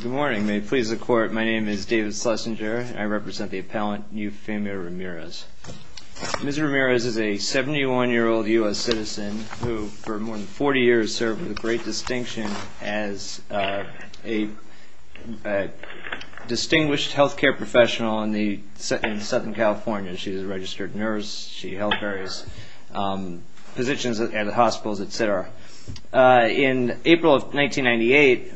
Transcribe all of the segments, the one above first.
Good morning, may it please the Court, my name is David Schlesinger and I represent the appellant Euphemia Ramirez. Ms. Ramirez is a 71-year-old U.S. citizen who for more than 40 years served with great distinction as a distinguished healthcare professional in Southern California. She is a registered nurse, she held various positions at hospitals, etc. In April of 1998,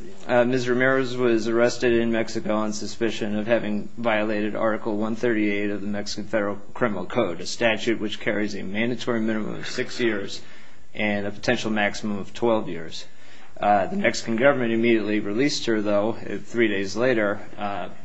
Ms. Ramirez was arrested in Mexico on suspicion of having violated Article 138 of the Mexican Federal Criminal Code, a statute which carries a mandatory minimum of six years and a potential maximum of 12 years. The Mexican government immediately released her, though, three days later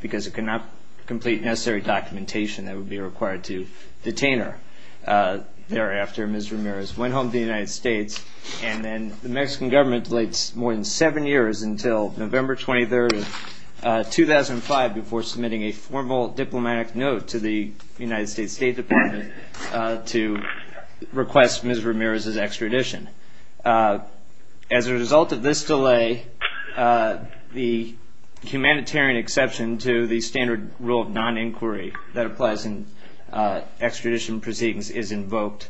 because it could not complete necessary documentation that would be required to detain her. Thereafter, Ms. Ramirez went home to the United States and then the Mexican government delayed more than seven years until November 23, 2005 before submitting a formal diplomatic note to the United States State Department to request Ms. Ramirez's extradition. As a result of this delay, the humanitarian exception to the standard rule of non-inquiry that applies in extradition proceedings is invoked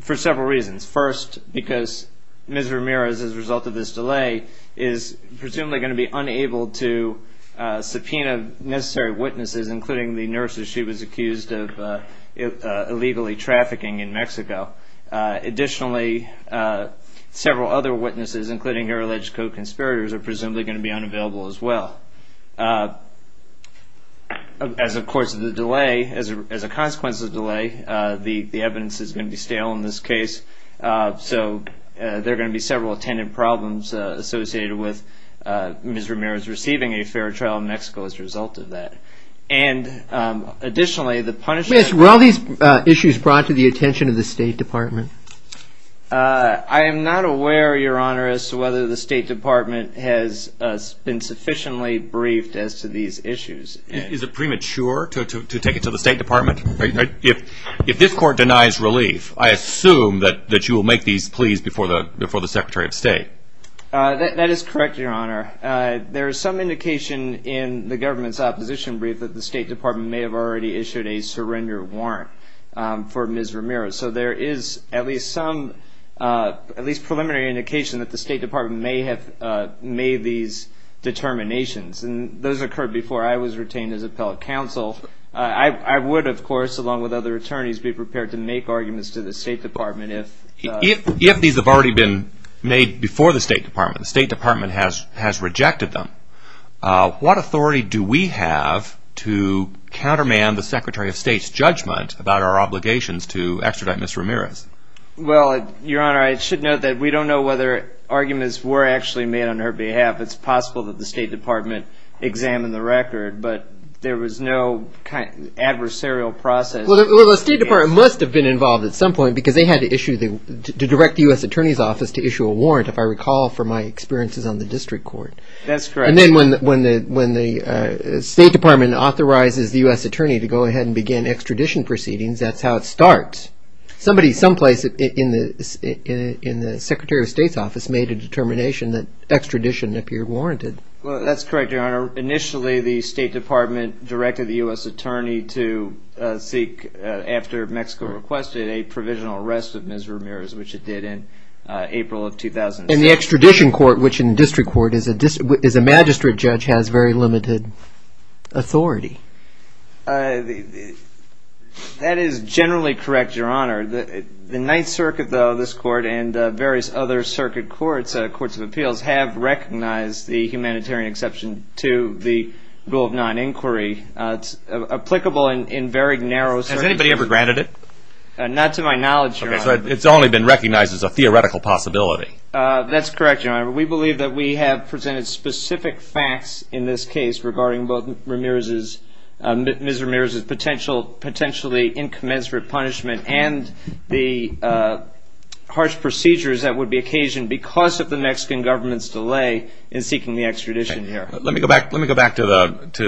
for several reasons. First, because Ms. Ramirez, as a result of this delay, is presumably going to be unable to subpoena necessary witnesses, including the nurses she was accused of illegally trafficking in Mexico. Additionally, several other witnesses, including her alleged co-conspirators, are presumably going to be unavailable as well. As a consequence of the delay, the evidence is going to be stale in this case, so there are going to be several attendant problems associated with Ms. Ramirez receiving a fair trial in Mexico as a result of that. Additionally, the punishment... Were all these issues brought to the attention of the State Department? I am not aware, Your Honor, as to whether the State Department has been sufficiently briefed as to these issues. Is it premature to take it to the State Department? If this Court denies relief, I assume that you will make these pleas before the Secretary of State. That is correct, Your Honor. There is some indication in the government's opposition brief that the State Department may have already issued a surrender warrant for Ms. Ramirez, so there is at least some preliminary indication that the State Department may have made these determinations, and those occurred before I was retained as appellate counsel. I would, of course, along with other attorneys, be prepared to make arguments to the State Department if... What authority do we have to counterman the Secretary of State's judgment about our obligations to extradite Ms. Ramirez? Well, Your Honor, I should note that we don't know whether arguments were actually made on her behalf. It's possible that the State Department examined the record, but there was no adversarial process... Well, the State Department must have been involved at some point because they had to issue... That's correct. And then when the State Department authorizes the U.S. Attorney to go ahead and begin extradition proceedings, that's how it starts. Somebody someplace in the Secretary of State's office made a determination that extradition appeared warranted. Well, that's correct, Your Honor. Initially, the State Department directed the U.S. Attorney to seek, after Mexico requested, a provisional arrest of Ms. Ramirez, which it did in April of 2006. And the extradition court, which in district court is a magistrate judge, has very limited authority. That is generally correct, Your Honor. The Ninth Circuit, though, this court and various other circuit courts, courts of appeals, have recognized the humanitarian exception to the rule of non-inquiry. It's applicable in very narrow circumstances. Has anybody ever granted it? Not to my knowledge, Your Honor. It's only been recognized as a theoretical possibility. That's correct, Your Honor. We believe that we have presented specific facts in this case regarding both Ms. Ramirez's potentially incommensurate punishment and the harsh procedures that would be occasioned because of the Mexican government's delay in seeking the extradition here. Let me go back to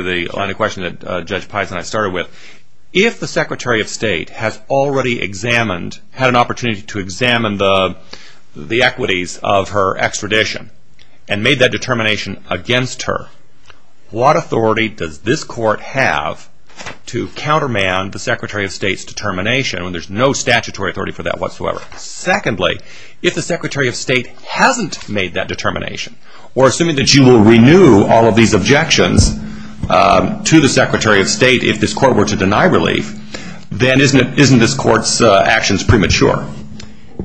the line of question that Judge Pison and I started with. If the Secretary of State has already examined, had an opportunity to examine the equities of her extradition and made that determination against her, what authority does this court have to countermand the Secretary of State's determination when there's no statutory authority for that whatsoever? Secondly, if the Secretary of State hasn't made that determination, or assuming that you will renew all of these objections to the Secretary of State if this court were to deny relief, then isn't this court's actions premature?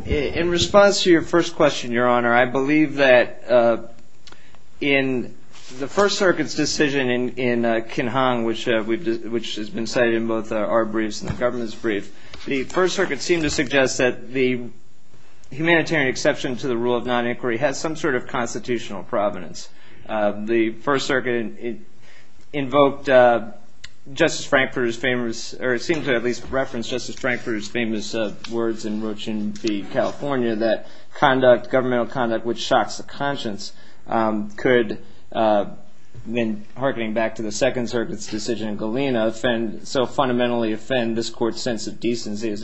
In response to your first question, Your Honor, I believe that in the First Circuit's decision in Kinhong, which has been cited in both our briefs and the government's brief, the First Circuit seemed to suggest that the humanitarian exception to the rule of non-inquiry has some sort of constitutional provenance. The First Circuit invoked Justice Frankfurter's famous, or it seemed to at least reference Justice Frankfurter's famous words in Rochin v. California that governmental conduct which shocks the conscience could, then hearkening back to the Second Circuit's decision in Galena, so fundamentally offend this court's sense of decency as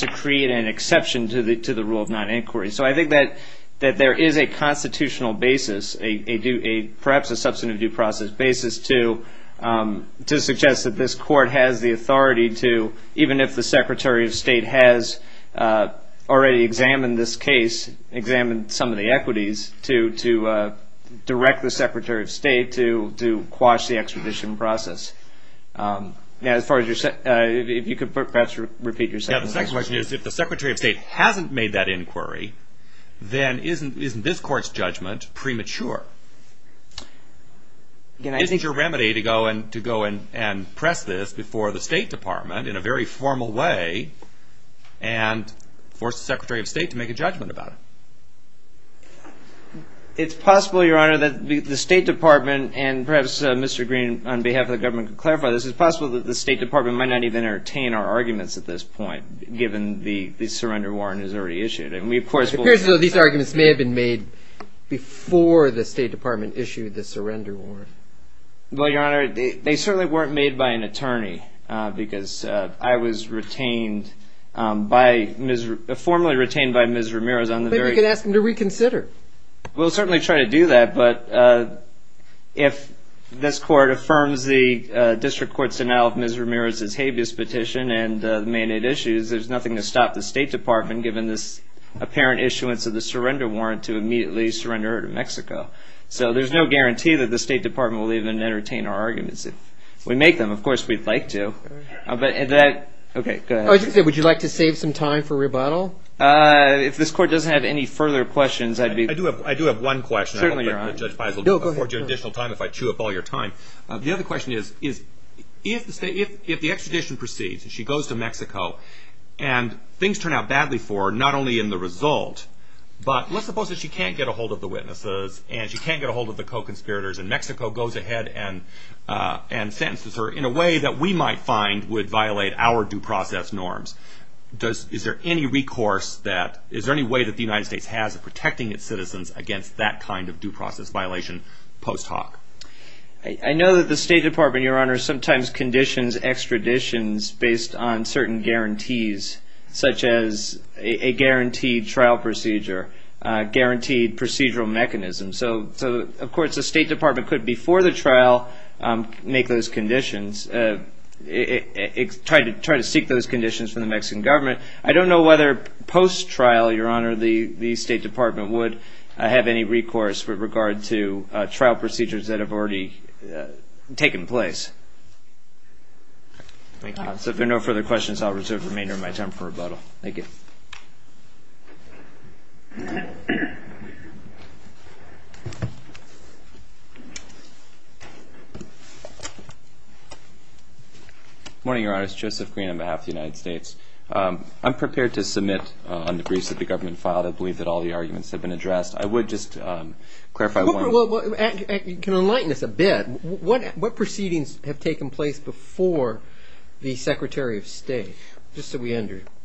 to create an exception to the rule of non-inquiry. So I think that there is a constitutional basis, perhaps a substantive due process basis, to suggest that this court has the authority to, even if the Secretary of State has already examined this case, examined some of the equities, to direct the Secretary of State to quash the extradition process. If you could perhaps repeat your second question. My second question is if the Secretary of State hasn't made that inquiry, then isn't this court's judgment premature? Isn't your remedy to go and press this before the State Department in a very formal way and force the Secretary of State to make a judgment about it? It's possible, Your Honor, that the State Department, and perhaps Mr. Green on behalf of the government can clarify this, it's possible that the State Department might not even entertain our arguments at this point, given the surrender warrant is already issued. It appears as though these arguments may have been made before the State Department issued the surrender warrant. Well, Your Honor, they certainly weren't made by an attorney, because I was retained by Ms. Ramiro's on the very... Maybe we can ask them to reconsider. We'll certainly try to do that, but if this court affirms the district court's denial of Ms. Ramiro's habeas petition and the mandate issues, there's nothing to stop the State Department, given this apparent issuance of the surrender warrant, to immediately surrender her to Mexico. So there's no guarantee that the State Department will even entertain our arguments. If we make them, of course we'd like to. Would you like to save some time for rebuttal? If this court doesn't have any further questions, I'd be... I do have one question. Certainly, Your Honor. I don't want to afford you additional time if I chew up all your time. The other question is, if the extradition proceeds, and she goes to Mexico, and things turn out badly for her, not only in the result, but let's suppose that she can't get a hold of the witnesses, and she can't get a hold of the co-conspirators, and Mexico goes ahead and sentences her in a way that we might find would violate our due process norms. Is there any recourse that... Is there any way that the United States has of protecting its citizens against that kind of due process violation post hoc? I know that the State Department, Your Honor, sometimes conditions extraditions based on certain guarantees, such as a guaranteed trial procedure, guaranteed procedural mechanisms. So, of course, the State Department could, before the trial, make those conditions, try to seek those conditions from the Mexican government. I don't know whether post-trial, Your Honor, the State Department would have any recourse with regard to trial procedures that have already taken place. Thank you. If there are no further questions, I'll reserve the remainder of my time for rebuttal. Thank you. Good morning, Your Honor. It's Joseph Green on behalf of the United States. I'm prepared to submit on the briefs that the government filed. I believe that all the arguments have been addressed. I would just clarify one... Can you enlighten us a bit? What proceedings have taken place before the Secretary of State, just so we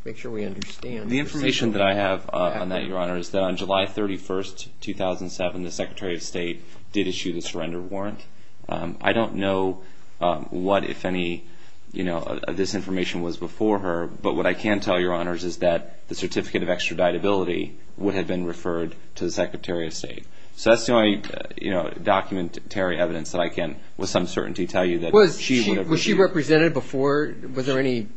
make sure we understand? The information that I have on that, Your Honor, is that on July 31, 2007, the Secretary of State did issue the surrender warrant. I don't know what, if any, this information was before her, but what I can tell you, Your Honor, is that the certificate of extraditability would have been referred to the Secretary of State. So that's the only documentary evidence that I can, with some certainty, tell you that she would have... Was she represented before? Was there any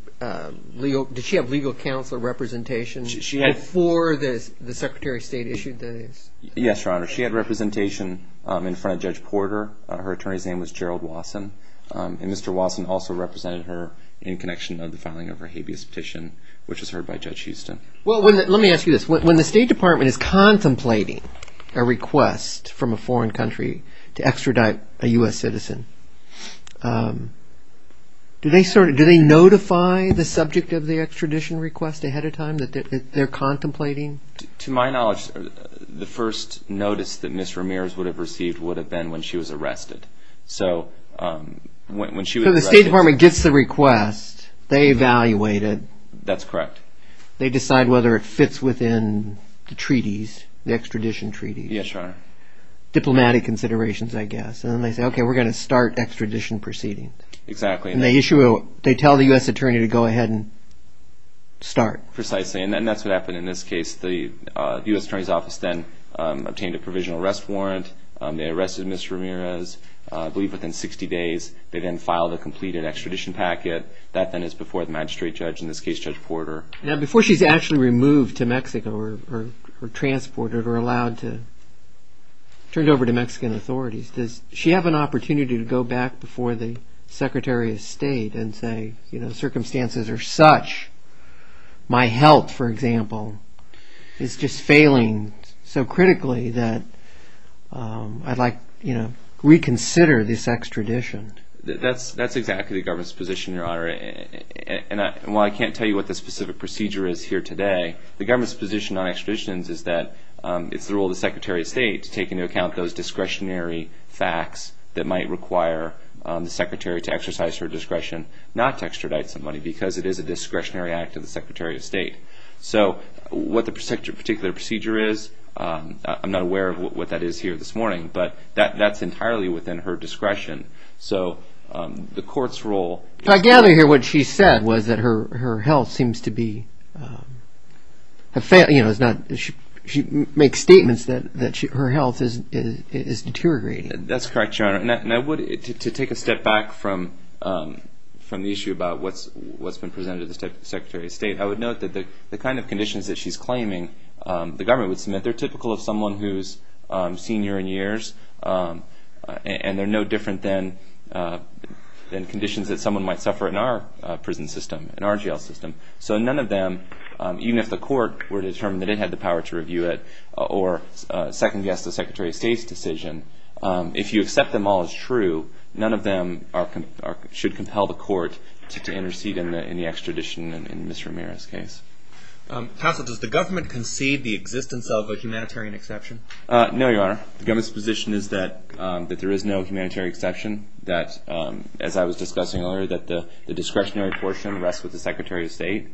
legal... Did she have legal counsel or representation before the Secretary of State issued this? Yes, Your Honor. She had representation in front of Judge Porter. Her attorney's name was Gerald Wasson. And Mr. Wasson also represented her in connection of the filing of her habeas petition, which was heard by Judge Houston. Well, let me ask you this. When the State Department is contemplating a request from a foreign country to extradite a U.S. citizen, do they notify the subject of the extradition request ahead of time that they're contemplating? To my knowledge, the first notice that Ms. Ramirez would have received would have been when she was arrested. So when she was arrested... So the State Department gets the request. They evaluate it. That's correct. They decide whether it fits within the treaties, the extradition treaties. Yes, Your Honor. Diplomatic considerations, I guess. And then they say, okay, we're going to start extradition proceedings. Exactly. And they tell the U.S. attorney to go ahead and start. Precisely. And that's what happened in this case. The U.S. Attorney's Office then obtained a provisional arrest warrant. They arrested Ms. Ramirez, I believe within 60 days. They then filed a completed extradition packet. That then is before the magistrate judge, in this case Judge Porter. Now, before she's actually removed to Mexico or transported or allowed to be turned over to Mexican authorities, does she have an opportunity to go back before the Secretary of State and say, you know, is just failing so critically that I'd like, you know, reconsider this extradition? That's exactly the government's position, Your Honor. And while I can't tell you what the specific procedure is here today, the government's position on extraditions is that it's the role of the Secretary of State to take into account those discretionary facts that might require the Secretary to exercise her discretion not to extradite somebody because it is a discretionary act of the Secretary of State. So what the particular procedure is, I'm not aware of what that is here this morning, but that's entirely within her discretion. So the court's role – I gather here what she said was that her health seems to be – you know, she makes statements that her health is deteriorating. That's correct, Your Honor. And I would – to take a step back from the issue about what's been presented to the Secretary of State, I would note that the kind of conditions that she's claiming the government would submit, they're typical of someone who's senior in years, and they're no different than conditions that someone might suffer in our prison system, in our jail system. So none of them, even if the court were determined that it had the power to review it or second-guess the Secretary of State's decision, if you accept them all as true, none of them should compel the court to intercede in the extradition in Ms. Ramirez's case. Counsel, does the government concede the existence of a humanitarian exception? No, Your Honor. The government's position is that there is no humanitarian exception, that, as I was discussing earlier, that the discretionary portion rests with the Secretary of State.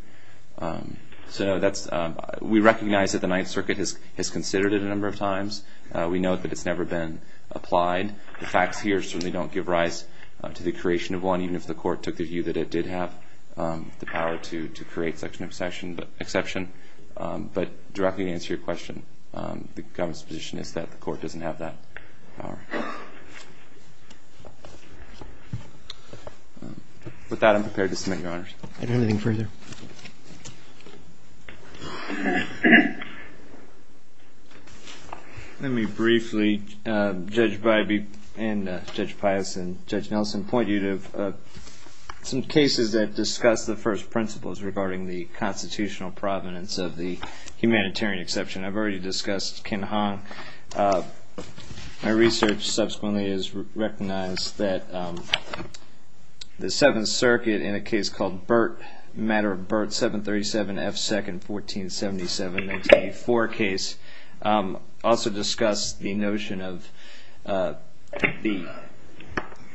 So that's – we recognize that the Ninth Circuit has considered it a number of times. We note that it's never been applied. The facts here certainly don't give rise to the creation of one, even if the court took the view that it did have the power to create such an exception. But directly to answer your question, the government's position is that the court doesn't have that power. With that, I'm prepared to submit, Your Honors. Anything further? Let me briefly, Judge Bybee and Judge Pius and Judge Nelson, point you to some cases that discuss the first principles regarding the constitutional provenance of the humanitarian exception. I've already discussed Kin Hong. My research subsequently has recognized that the Seventh Circuit, in a case called Burt, Matter of Burt, 737 F. 2nd, 1477, 1984 case, also discussed the notion of the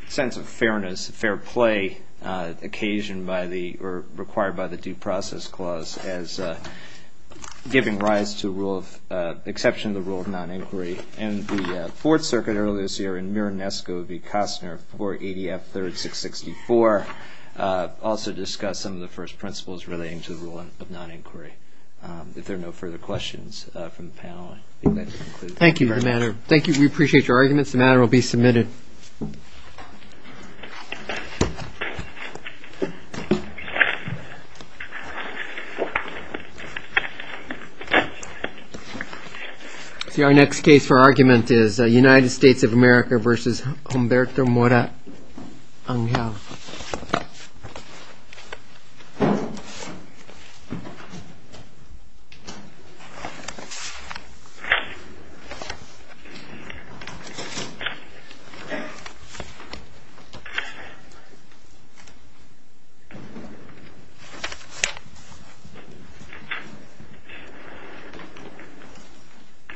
sense of fairness, fair play occasioned by the – or required by the Due Process Clause as giving rise to rule of – exception to the rule of non-inquiry. And the Fourth Circuit earlier this year in Miranesco v. Kostner, 480 F. 3rd, 664, also discussed some of the first principles relating to the rule of non-inquiry. If there are no further questions from the panel, I think that concludes my remarks. Thank you, Your Honor. We appreciate your arguments. The matter will be submitted. See, our next case for argument is United States of America v. Humberto Mora Angel. Thank you.